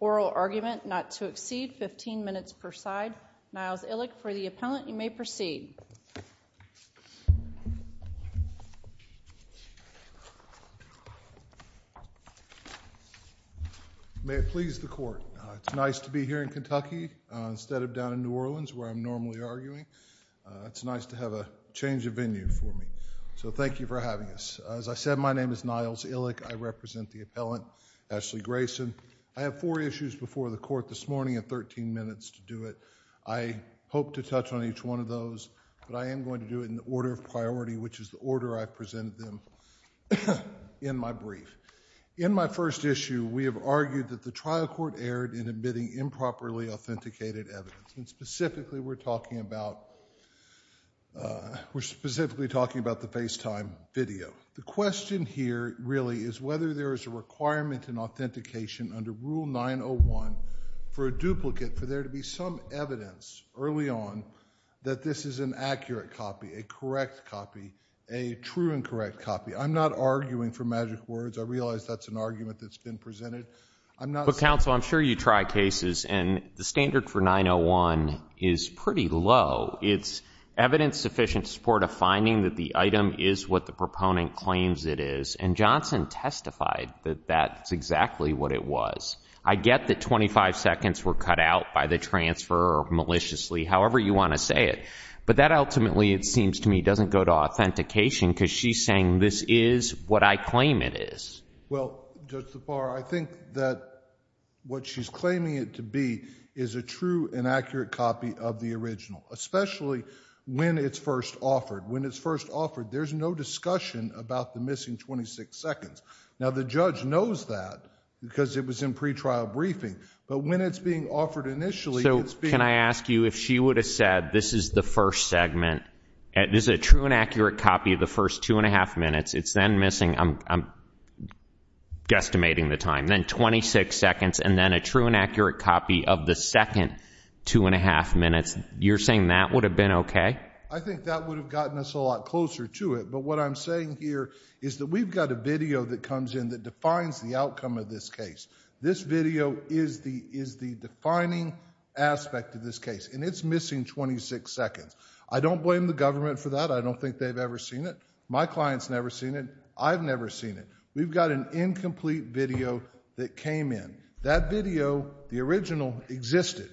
oral argument not to exceed 15 minutes per side. Miles Illick for the appellant you may proceed. May it please the court it's nice to be here in Kentucky instead of down in New Orleans where I'm normally arguing. It's nice to have a change of venue for me. So thank you for having us. As I said my name is Miles Illick. I represent the appellant Ashley Grayson. I have four issues before the court this morning and 13 minutes to do it. I hope to touch on each one of those but I am going to do it in the order of priority which is the order I presented them in my brief. In my first issue we have argued that the trial court erred in admitting improperly authenticated evidence and specifically we're talking about we're specifically talking about the FaceTime video. The question here really is whether there is a requirement in authentication under Rule 901 for a duplicate for there to be some evidence early on that this is an accurate copy, a correct copy, a true and correct copy. I'm not arguing for magic words. I realize that's an argument that's been presented. I'm not. But counsel I'm sure you try cases and the standard for Rule 901 is pretty low. It's evidence sufficient to support a finding that the item is what the proponent claims it is and Johnson testified that that's exactly what it was. I get that 25 seconds were cut out by the transfer maliciously however you want to say it. But that ultimately it seems to me doesn't go to authentication because she's saying this is what I claim it is. Well Judge Zafar I think that what she's claiming it to be is a true and accurate copy of the original especially when it's first offered. When it's first offered there's no discussion about the missing 26 seconds. Now the judge knows that because it was in pretrial briefing but when it's being offered initially it's being. So can I ask you if she would have said this is the first segment and this is a true and accurate copy of the first two and a half minutes it's then missing I'm guesstimating the time then 26 seconds and then a true and accurate copy of the second two and a half minutes. You're saying that would have been OK. I think that would have gotten us a lot closer to it. But what I'm saying here is that we've got a video that comes in that defines the outcome of this case. This video is the is the defining aspect of this case and it's missing 26 seconds. I don't blame the government for that. I don't think they've ever seen it. My clients never seen it. I've never seen it. We've got an incomplete video that came in that video. The original existed.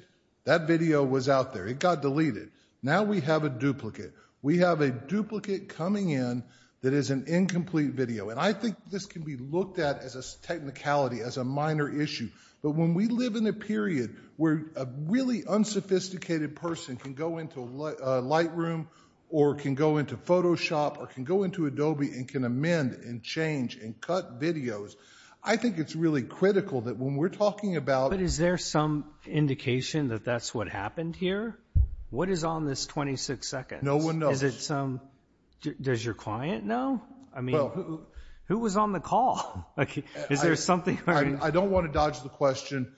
That video was out there. It got deleted. Now we have a duplicate. We have a duplicate coming in that is an incomplete video and I think this can be looked at as a technicality as a minor issue. But when we live in a period where a really unsophisticated person can go into a light room or can go into Photoshop or can go into Adobe and can amend and change and cut videos, I think it's really critical that when we're talking about... But is there some indication that that's what happened here? What is on this 26 seconds? No one knows. Does your client know? Who was on the call? Is there something? I don't want to dodge the question.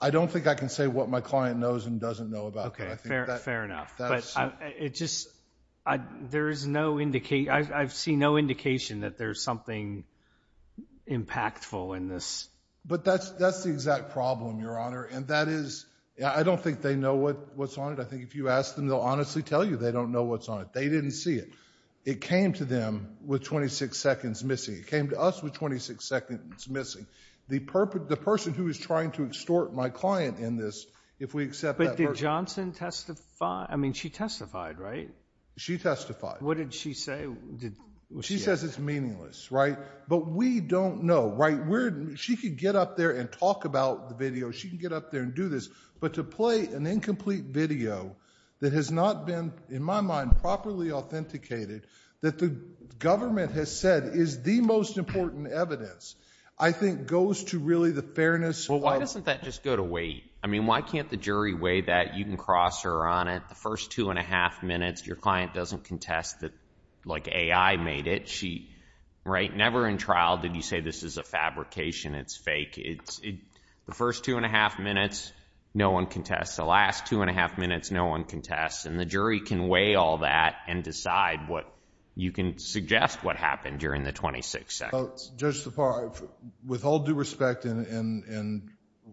I don't think I can say what my client knows and doesn't know about that. Fair enough. I've seen no indication that there's something impactful in this. But that's the exact problem, Your Honor. And that is, I don't think they know what's on it. I think if you ask them, they'll honestly tell you they don't know what's on it. They didn't see it. It came to them with 26 seconds missing. It came to us with 26 seconds missing. The person who is trying to extort my client in this, if we accept that... But did Johnson testify? I mean, she testified, right? She testified. What did she say? She says it's meaningless, right? But we don't know, right? She could get up there and talk about the video. She can get up there and do this. But to play an incomplete video that has not been, in my mind, properly authenticated, that the government has said is the most important evidence, I think goes to really the fairness part. Well, why doesn't that just go to weight? I mean, why can't the jury weigh that? You can cross her on it. The first two and a half minutes, your client doesn't contest that AI made it. Right? Never in trial did you say this is a fabrication. It's fake. The first two and a half minutes, no one contests. The last two and a half minutes, no one contests. And the jury can weigh all that and decide what you can suggest what happened during the 26 seconds. Well, Judge Tappara, with all due respect, and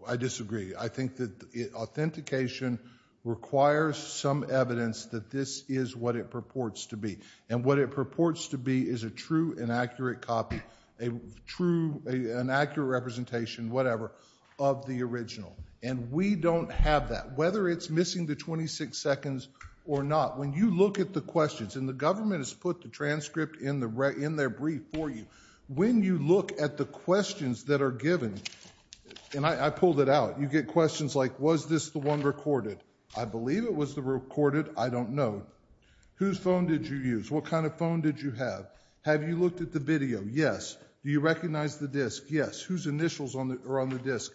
I disagree, I think that authentication requires some evidence that this is what it purports to be. And what it purports to be is a true and accurate copy, a true and accurate representation, whatever, of the original. And we don't have that. Whether it's missing the 26 seconds or not, when you look at the questions, and the government has put the transcript in their brief for you, when you look at the questions that are given, and I pulled it out, you get questions like was this the one recorded? I believe it was the recorded. I don't know. Whose phone did you use? What kind of phone did you have? Have you looked at the video? Yes. Do you recognize the disk? Yes. Whose initials are on the disk?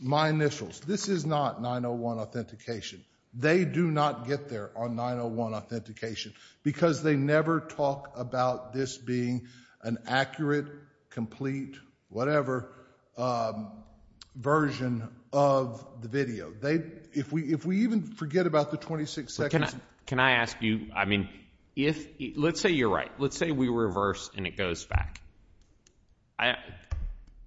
My initials. This is not 901 authentication. They do not get there on 901 authentication because they never talk about this being an accurate, complete, whatever, version of the video. If we even forget about the 26 seconds. Can I ask you, I mean, let's say you're right. Let's say we reverse and it goes back.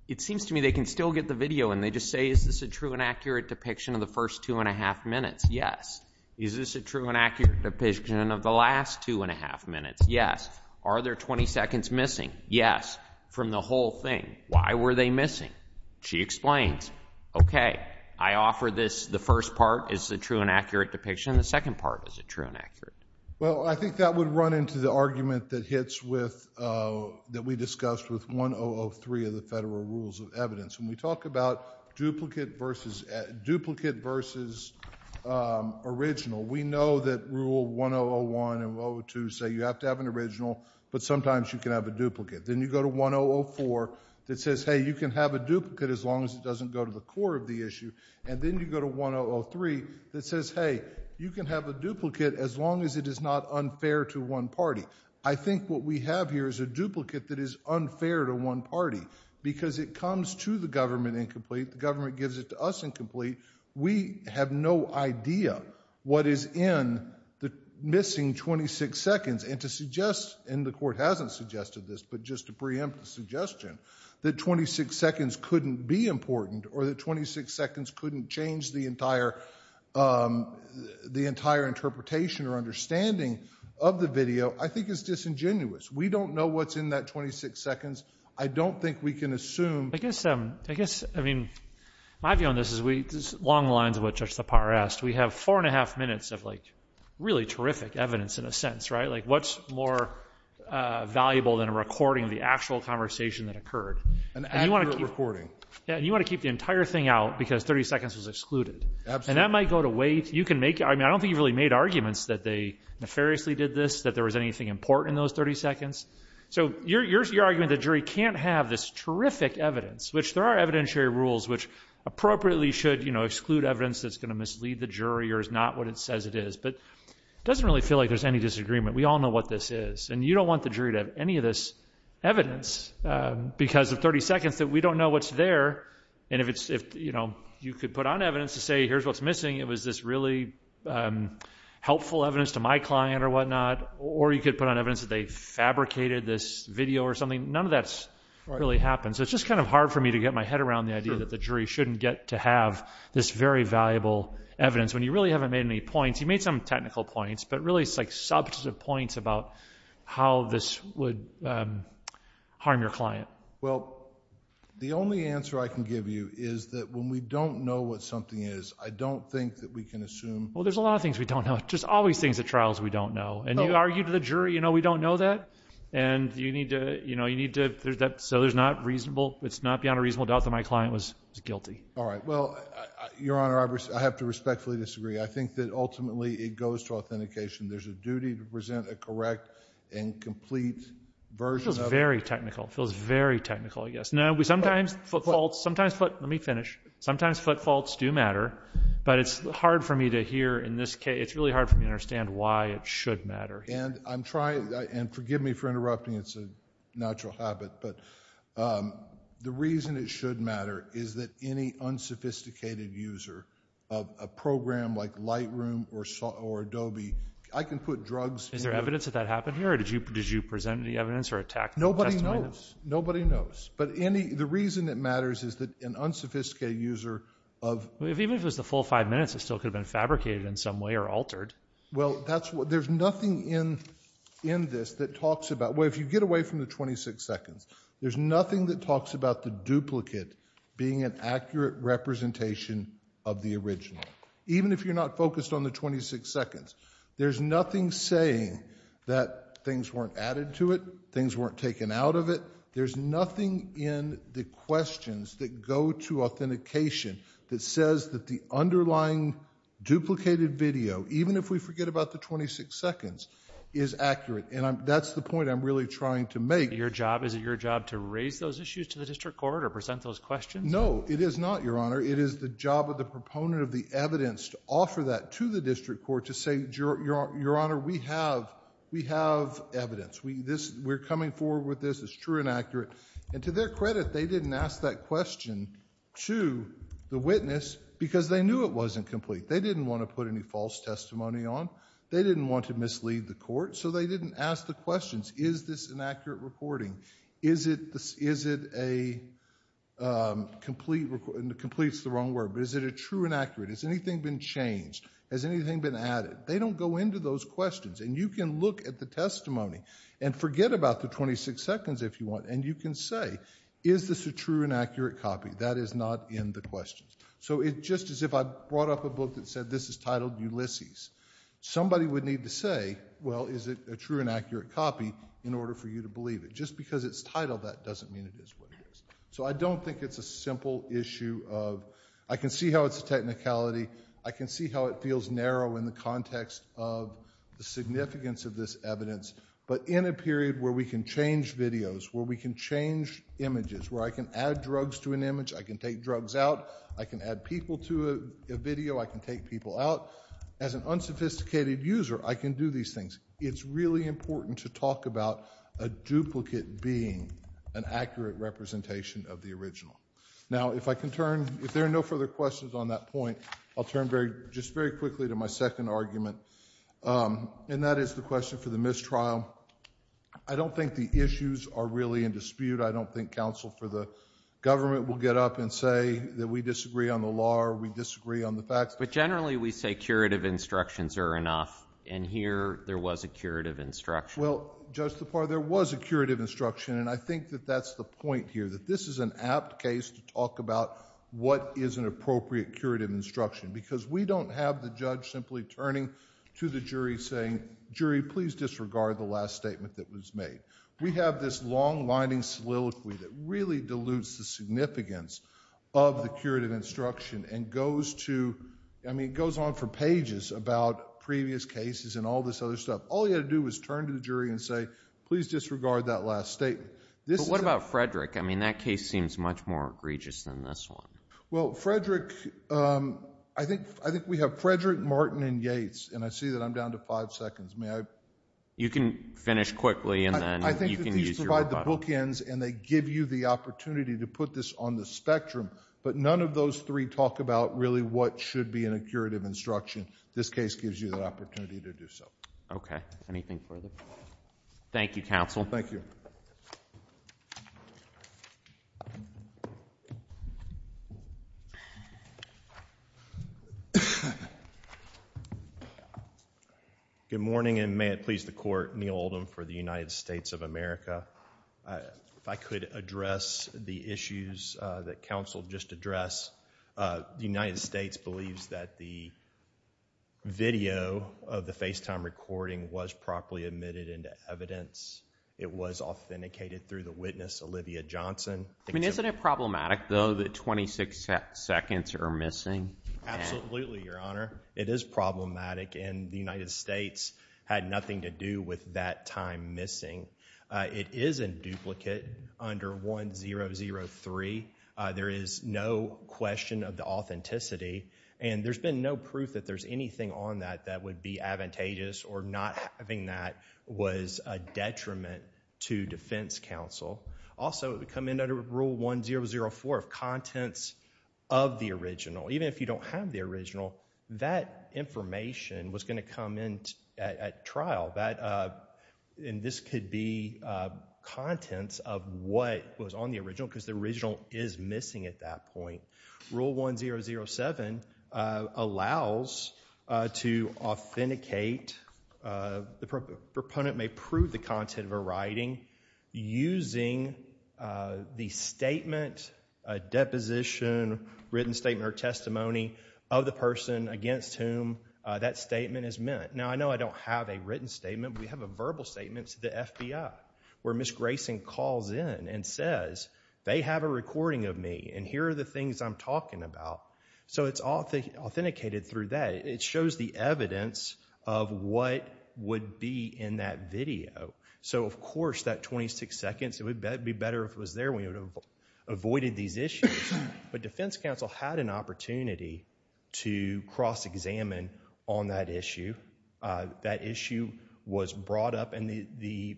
It seems to me they can still get the video and they just say is this a true and accurate depiction of the first two and a half minutes? Yes. Is this a true and accurate depiction of the last two and a half minutes? Yes. Are there 20 seconds missing? Yes. From the whole thing. Why were they missing? She explains. Okay. I offer this, the first part is the true and accurate depiction. The second part is the true and accurate. Well, I think that would run into the argument that hits with, that we discussed with 1003 of the Federal Rules of Evidence. When we talk about duplicate versus original, we know that Rule 1001 and 102 say you have to have an original, but sometimes you can have a duplicate. Then you go to 1004 that says, hey, you can have a duplicate as long as it doesn't go to the core of the issue. And then you go to 1003 that says, hey, you can have a duplicate as long as it is not unfair to one party. I think what we have here is a duplicate that is unfair to one party, because it comes to the government incomplete, the government gives it to us incomplete. We have no idea what is in the missing 26 seconds. And to suggest, and the Court hasn't suggested this, but just to preempt the suggestion, that 26 seconds couldn't be important, or that 26 seconds couldn't change the entire interpretation or understanding of the video, I think is disingenuous. We don't know what's in that 26 seconds. I don't think we can assume... I guess, I mean, my view on this is, along the lines of what Judge Sapar asked, we have four and a half minutes of, like, really terrific evidence in a sense, right? Like, what's more valuable than a recording of the actual conversation that occurred? An accurate recording. Yeah, and you want to keep the entire thing out because 30 seconds was excluded. Absolutely. And that might go to wait. You can make, I mean, I don't think you've really made arguments that they nefariously did this, that there was anything important in those 30 seconds. So your argument that the jury can't have this terrific evidence, which there are evidentiary rules which appropriately should exclude evidence that's going to mislead the jury or is not what it says it is, but it doesn't really feel like there's any disagreement. We all know what this is. And you don't want the jury to have any of this evidence because of 30 seconds that we don't know what's there. And if you could put on evidence to say, here's what's missing. It was this really helpful evidence to my client or whatnot. Or you could put on evidence that they fabricated this video or something. None of that really happens. So it's just kind of hard for me to get my head around the idea that the jury shouldn't get to have this very valuable evidence when you really haven't made any points. You made some technical points, but really it's like substantive points about how this would harm your client. Well, the only answer I can give you is that when we don't know what something is, I don't think that we can assume. Well, there's a lot of things we don't know. Just all these things at trials we don't know. And you argued to the jury, you know, we don't know that. And you need to, you know, you need to, so there's not reasonable, it's not beyond a reasonable doubt that my client was guilty. All right. Well, Your Honor, I have to respectfully disagree. I think that ultimately it goes to authentication. There's a duty to present a correct and complete version of it. It feels very technical. It feels very technical, I guess. Sometimes foot faults, let me finish. Sometimes foot faults do matter, but it's hard for me to hear in this case, it's really hard for me to understand why it should matter. And I'm trying, and forgive me for interrupting, it's a natural habit, but the reason it should matter is that any unsophisticated user of a program like Lightroom or Adobe, I can put drugs in it. Is there evidence that that happened here, or did you present any evidence or attack Nobody knows. Nobody knows. But any, the reason it matters is that an unsophisticated user of Even if it was the full five minutes, it still could have been fabricated in some way or Well, that's what, there's nothing in, in this that talks about, well, if you get away from the 26 seconds, there's nothing that talks about the duplicate being an accurate representation of the original. Even if you're not focused on the 26 seconds, there's nothing saying that things weren't added to it, things weren't taken out of it. There's nothing in the questions that go to authentication that says that the underlying duplicated video, even if we forget about the 26 seconds, is accurate. And I'm, that's the point I'm really trying to make. Your job, is it your job to raise those issues to the district court or present those questions? No, it is not, Your Honor. It is the job of the proponent of the evidence to offer that to the district court to say, Your, Your Honor, we have, we have evidence, we, this, we're coming forward with this, it's true and accurate. And to their credit, they didn't ask that question to the witness because they knew it wasn't complete. They didn't want to put any false testimony on, they didn't want to mislead the court, so they didn't ask the questions. Is this an accurate reporting? Is it, is it a complete, complete's the wrong word, but is it a true and accurate? Has anything been changed? Has anything been added? They don't go into those questions. And you can look at the testimony and forget about the 26 seconds if you want, and you can say, is this a true and accurate copy? That is not in the question. So it, just as if I brought up a book that said this is titled Ulysses, somebody would need to say, well, is it a true and accurate copy in order for you to believe it? Just because it's titled, that doesn't mean it is what it is. So I don't think it's a simple issue of, I can see how it's a technicality, I can see how it feels narrow in the context of the significance of this evidence, but in a period where we can change videos, where we can change images, where I can add drugs to an image, I can take drugs out, I can add people to a video, I can take people out. As an unsophisticated user, I can do these things. It's really important to talk about a duplicate being an accurate representation of the original. Now if I can turn, if there are no further questions on that point, I'll turn just very quickly to my second argument, and that is the question for the mistrial. I don't think the issues are really in dispute. I don't think counsel for the government will get up and say that we disagree on the law or we disagree on the facts. But generally we say curative instructions are enough, and here there was a curative instruction. Well, Judge Tapar, there was a curative instruction, and I think that that's the point here, that this is an apt case to talk about what is an appropriate curative instruction. Because we don't have the judge simply turning to the jury saying, jury, please disregard the last statement that was made. We have this long-lining soliloquy that really dilutes the significance of the curative instruction and goes to, I mean, goes on for pages about previous cases and all this other stuff. All you have to do is turn to the jury and say, please disregard that last statement. This is... But what about Frederick? I mean, that case seems much more egregious than this one. Well, Frederick, I think we have Frederick, Martin, and Yates, and I see that I'm down to five seconds. May I... You can finish quickly and then you can use your rebuttal. I think that these provide the bookends and they give you the opportunity to put this on the spectrum. But none of those three talk about really what should be in a curative instruction. This case gives you the opportunity to do so. Okay. Anything further? Thank you, counsel. Thank you. Good morning, and may it please the Court, Neal Oldham for the United States of America. If I could address the issues that counsel just addressed. The United States believes that the video of the FaceTime recording was properly emitted into evidence. It was authenticated through the witness, Olivia Johnson. I mean, isn't it problematic, though, that 26 seconds are missing? Absolutely, Your Honor. It is problematic, and the United States had nothing to do with that time missing. It is in duplicate under 1003. There is no question of the authenticity, and there's been no proof that there's anything on that that would be advantageous or not having that was a detriment to defense counsel. Also, it would come in under Rule 1004 of contents of the original. Even if you don't have the original, that information was going to come in at trial. This could be contents of what was on the original, because the original is missing at that point. Rule 1007 allows to authenticate, the proponent may prove the content of a writing using the statement, a deposition, written statement or testimony of the person against whom that statement is meant. Now, I know I don't have a written statement, but we have a verbal statement to the FBI where Ms. Grayson calls in and says, they have a recording of me, and here are the things I'm talking about. It's authenticated through that. It shows the evidence of what would be in that video. Of course, that 26 seconds, it would be better if it was there. We would have avoided these issues, but defense counsel had an opportunity to cross-examine on that issue. That issue was brought up, and the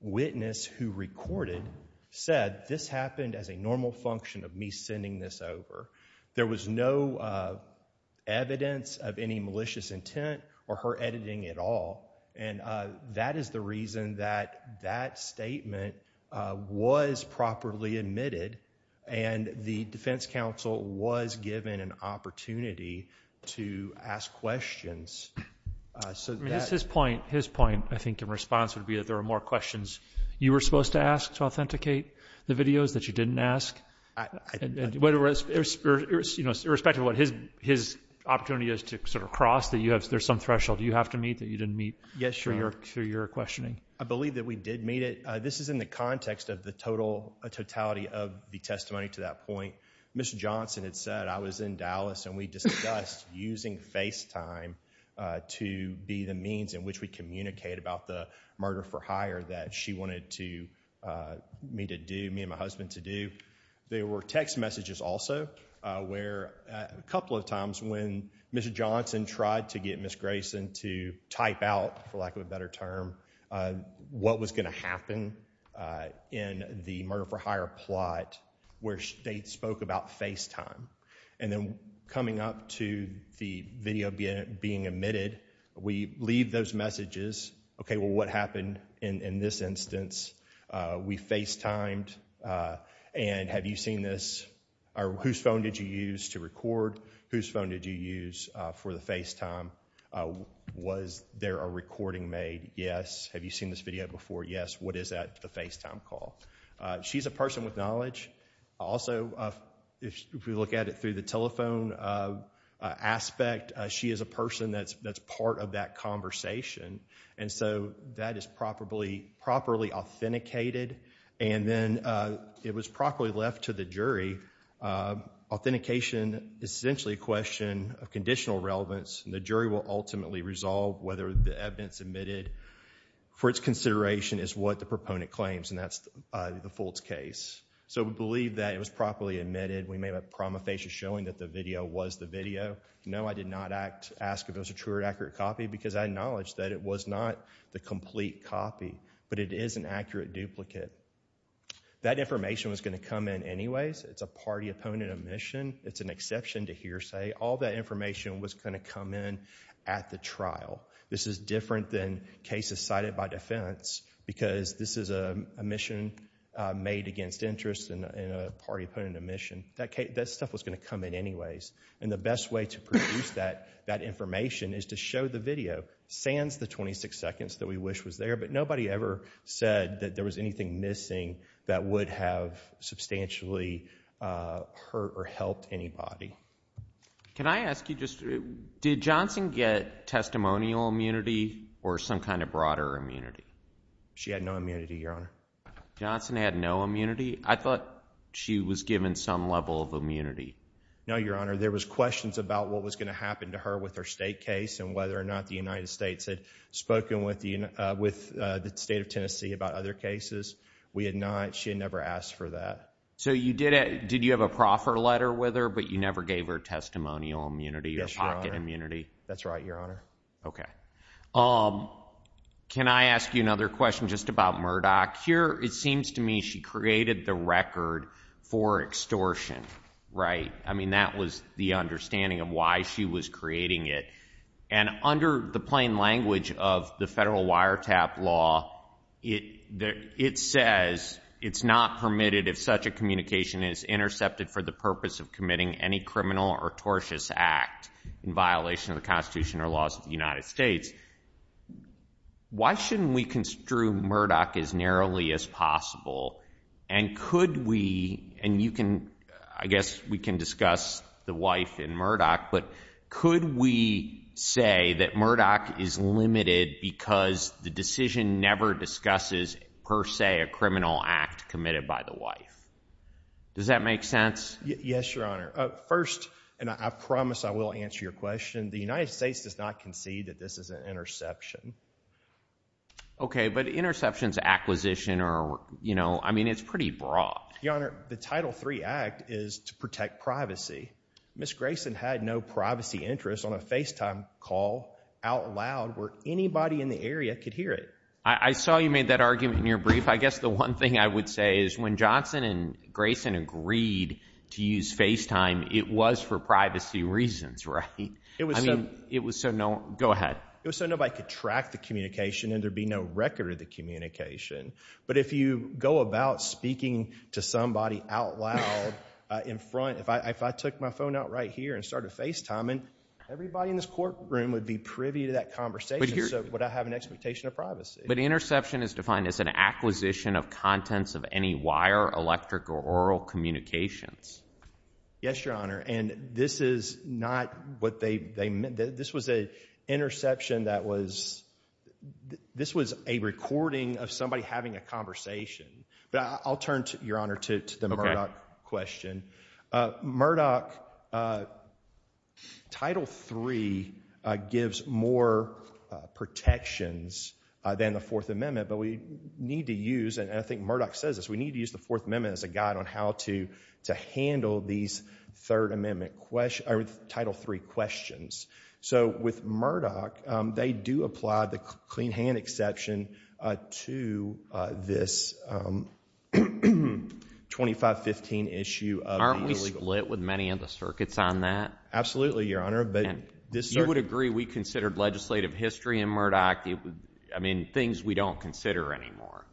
witness who recorded said, this happened as a normal function of me sending this over. There was no evidence of any malicious intent or her editing at all. That is the reason that that statement was properly admitted, and the defense counsel was given an opportunity to ask questions. So, that... I mean, his point, I think, in response would be that there were more questions you were supposed to ask to authenticate the videos that you didn't ask, irrespective of what his opportunity is to sort of cross, that you have... there's some threshold you have to meet that you didn't meet through your questioning. I believe that we did meet it. This is in the context of the totality of the testimony to that point. Ms. Johnson had said, I was in Dallas, and we discussed using FaceTime to be the means in which we communicate about the murder for hire that she wanted me to do, me and my husband to do. There were text messages also, where a couple of times when Ms. Johnson tried to get Ms. Grayson to type out, for lack of a better term, what was going to happen in the murder for hire plot, where they spoke about FaceTime. And then coming up to the video being emitted, we leave those messages, okay, well what happened in this instance? We FaceTimed, and have you seen this? Whose phone did you use to record? Whose phone did you use for the FaceTime? Was there a recording made? Yes. Have you seen this video before? Yes. What is that, the FaceTime call? She's a person with knowledge. Also, if we look at it through the telephone aspect, she is a person that's part of that conversation, and so that is properly authenticated, and then it was properly left to the jury. Authentication is essentially a question of conditional relevance, and the jury will ultimately resolve whether the evidence emitted for its consideration is what the proponent claims, and that's the Fultz case. So we believe that it was properly emitted. We made a promulgation showing that the video was the video. No, I did not ask if it was a true or accurate copy, because I acknowledge that it was not the complete copy, but it is an accurate duplicate. That information was going to come in anyways. It's a party-opponent omission. It's an exception to hearsay. All that information was going to come in at the trial. This is different than cases cited by defense, because this is a mission made against interest and a party-opponent omission. That stuff was going to come in anyways, and the best way to produce that information is to show the video, sans the 26 seconds that we wish was there, but nobody ever said that there was anything missing that would have substantially hurt or helped anybody. Can I ask you just, did Johnson get testimonial immunity or some kind of broader immunity? She had no immunity, Your Honor. Johnson had no immunity? I thought she was given some level of immunity. No, Your Honor. There was questions about what was going to happen to her with her state case and whether or not the United States had spoken with the state of Tennessee about other cases. We had not. She had never asked for that. So you did, did you have a proffer letter with her, but you never gave her testimonial immunity or pocket immunity? That's right, Your Honor. Okay. Can I ask you another question just about Murdoch? Here, it seems to me she created the record for extortion, right? I mean, that was the understanding of why she was creating it. And under the plain language of the federal wiretap law, it says it's not permitted if such a communication is intercepted for the purpose of committing any criminal or tortious act in violation of the Constitution or laws of the United States. Why shouldn't we construe Murdoch as narrowly as possible? And could we, and you can, I guess we can discuss the wife in Murdoch, but could we say that Murdoch is limited because the decision never discusses per se a criminal act committed by the wife? Does that make sense? Yes, Your Honor. First, and I promise I will answer your question, the United States does not concede that this is an interception. Okay, but interceptions, acquisition, or, you know, I mean, it's pretty broad. Your Honor, the Title III Act is to protect privacy. Ms. Grayson had no privacy interest on a FaceTime call out loud where anybody in the area could hear it. I saw you made that argument in your brief. I guess the one thing I would say is when Johnson and Grayson agreed to use FaceTime, it was for privacy reasons, right? It was so nobody could track the communication and there'd be no record of the communication. But if you go about speaking to somebody out loud in front, if I took my phone out right here and started FaceTiming, everybody in this courtroom would be privy to that conversation, so would I have an expectation of privacy? But interception is defined as an acquisition of contents of any wire, electric, or aural communications. Yes, Your Honor. And this is not what they meant. This was an interception that was, this was a recording of somebody having a conversation. But I'll turn, Your Honor, to the Murdoch question. Murdoch, Title III gives more protections than the Fourth Amendment, but we need to use, and I think Murdoch says this, we need to use the Fourth Amendment as a guide on how to handle these Third Amendment, or Title III questions. So with Murdoch, they do apply the clean hand exception to this 2515 issue of the U.S. Aren't we split with many of the circuits on that? Absolutely, Your Honor. You would agree we considered legislative history in Murdoch, I mean, things we don't consider anymore.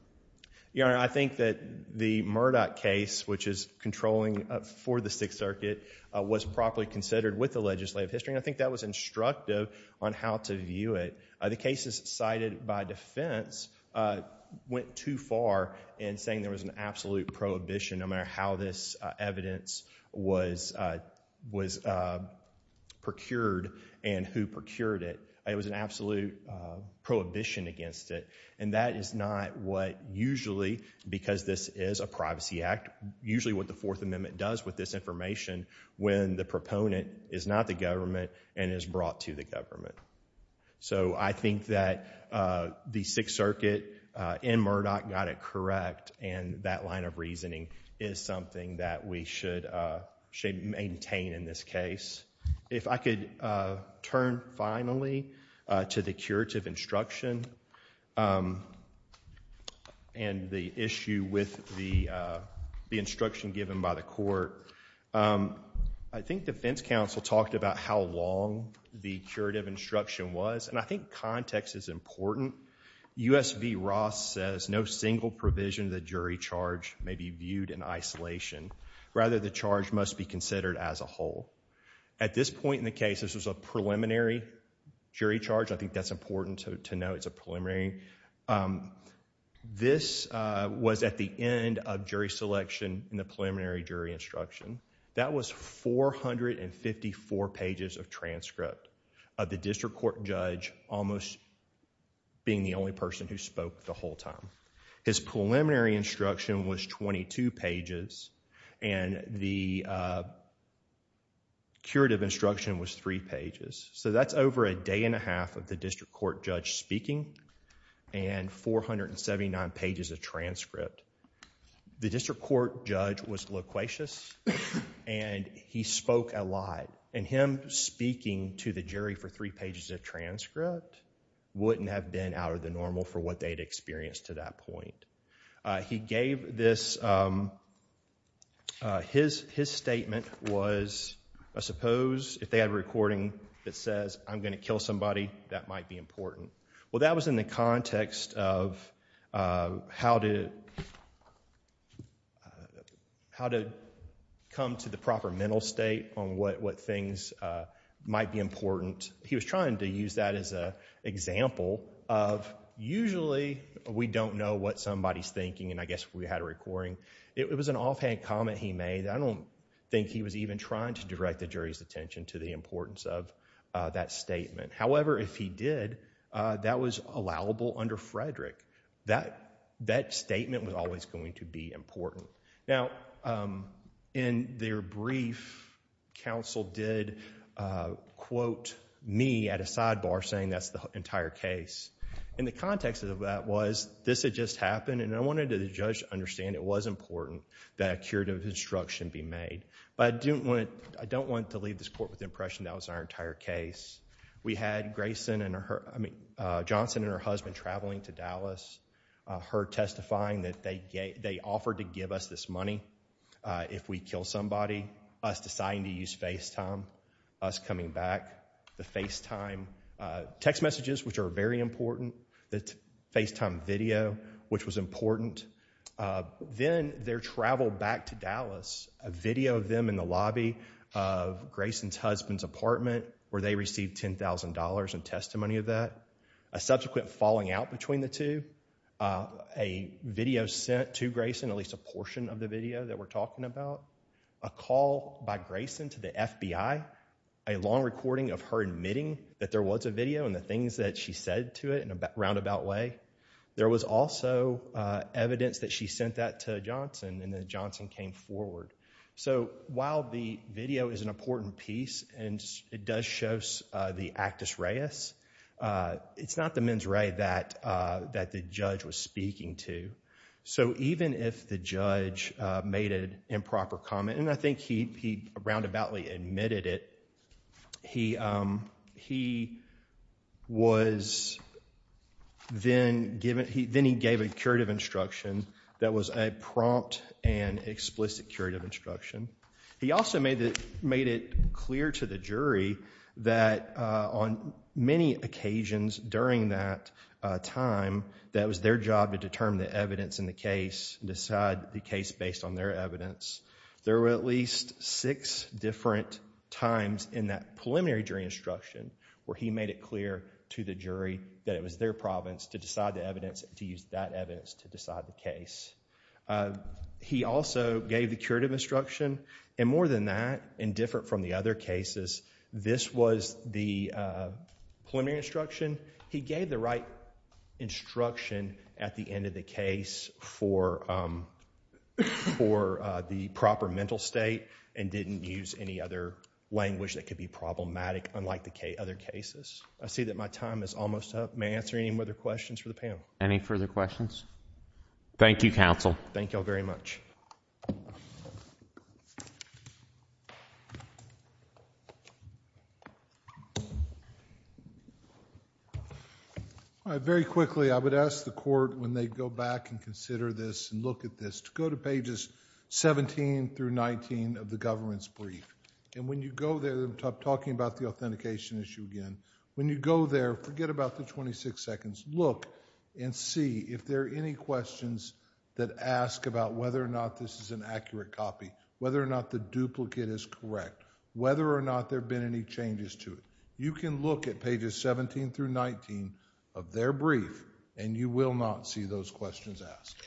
Your Honor, I think that the Murdoch case, which is controlling for the Sixth Circuit, was properly considered with the legislative history. And I think that was instructive on how to view it. The cases cited by defense went too far in saying there was an absolute prohibition no matter how this evidence was procured and who procured it. It was an absolute prohibition against it. And that is not what usually, because this is a privacy act, usually what the Fourth Amendment proponent is not the government and is brought to the government. So I think that the Sixth Circuit in Murdoch got it correct and that line of reasoning is something that we should maintain in this case. If I could turn finally to the curative instruction and the issue with the instruction given by court, I think defense counsel talked about how long the curative instruction was. And I think context is important. U.S. v. Ross says, no single provision of the jury charge may be viewed in isolation. Rather the charge must be considered as a whole. At this point in the case, this was a preliminary jury charge. I think that's important to know it's a preliminary. This was at the end of jury selection in the preliminary jury instruction. That was 454 pages of transcript of the district court judge almost being the only person who spoke the whole time. His preliminary instruction was 22 pages and the curative instruction was three pages. So that's over a day and a half of the district court judge speaking and 479 pages of transcript. The district court judge was loquacious and he spoke a lot and him speaking to the jury for three pages of transcript wouldn't have been out of the normal for what they'd experienced to that point. He gave this, his statement was, I suppose if they had a recording that says I'm going to kill somebody, that might be important. Well that was in the context of how to, how to come to the proper mental state on what things might be important. He was trying to use that as an example of usually we don't know what somebody's thinking and I guess we had a recording. It was an offhand comment he made. I don't think he was even trying to direct the jury's attention to the importance of that statement. However, if he did, that was allowable under Frederick. That statement was always going to be important. Now, in their brief, counsel did quote me at a sidebar saying that's the entire case. In the context of that was, this had just happened and I wanted the judge to understand it was important that a curative instruction be made, but I didn't want, I don't want to leave this court with the impression that was our entire case. We had Grayson and her, I mean Johnson and her husband traveling to Dallas. Her testifying that they offered to give us this money if we kill somebody. Us deciding to use FaceTime. Us coming back. The FaceTime text messages, which are very important. The FaceTime video, which was important. Then their travel back to Dallas, a video of them in the lobby of Grayson's husband's apartment where they received $10,000 in testimony of that. A subsequent falling out between the two. A video sent to Grayson, at least a portion of the video that we're talking about. A call by Grayson to the FBI. A long recording of her admitting that there was a video and the things that she said to it in a roundabout way. There was also evidence that she sent that to Johnson and then Johnson came forward. While the video is an important piece and it does show the actus reus, it's not the mens rea that the judge was speaking to. Even if the judge made an improper comment, and I think he roundaboutly admitted it, he was, then he gave a curative instruction that was a prompt and explicit curative instruction. He also made it clear to the jury that on many occasions during that time, that was their job to determine the evidence in the case and decide the case based on their evidence. There were at least six different times in that preliminary jury instruction where he made it clear to the jury that it was their province to decide the evidence, to use that evidence to decide the case. He also gave the curative instruction. More than that, and different from the other cases, this was the preliminary instruction. He gave the right instruction at the end of the case for the proper mental state and didn't use any other language that could be problematic unlike the other cases. I see that my time is almost up. May I answer any further questions for the panel? Any further questions? Thank you, counsel. Thank you all very much. All right. Very quickly, I would ask the court when they go back and consider this and look at this to go to pages 17 through 19 of the government's brief. When you go there, I'm talking about the authentication issue again. When you go there, forget about the 26 seconds, look and see if there are any questions that ask about whether or not this is an accurate copy, whether or not the duplicate is correct, whether or not there have been any changes to it. You can look at pages 17 through 19 of their brief and you will not see those questions asked.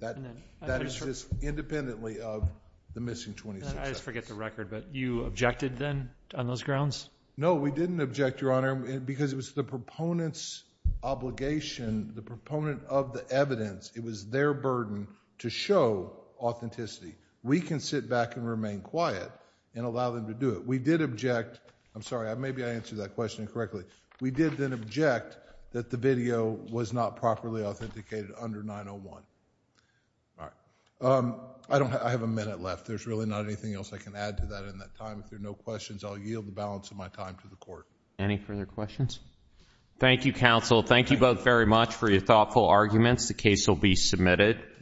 That is just independently of the missing 26 seconds. I just forget the record, but you objected then on those grounds? No, we didn't object, Your Honor, because it was the proponent's obligation, the proponent of the evidence, it was their burden to show authenticity. We can sit back and remain quiet and allow them to do it. We did object. I'm sorry, maybe I answered that question incorrectly. We did then object that the video was not properly authenticated under 901. I have a minute left. There's really not anything else I can add to that in that time. If there are no questions, I'll yield the balance of my time to the court. Any further questions? Thank you, counsel. Thank you both very much for your thoughtful arguments. The case will be submitted.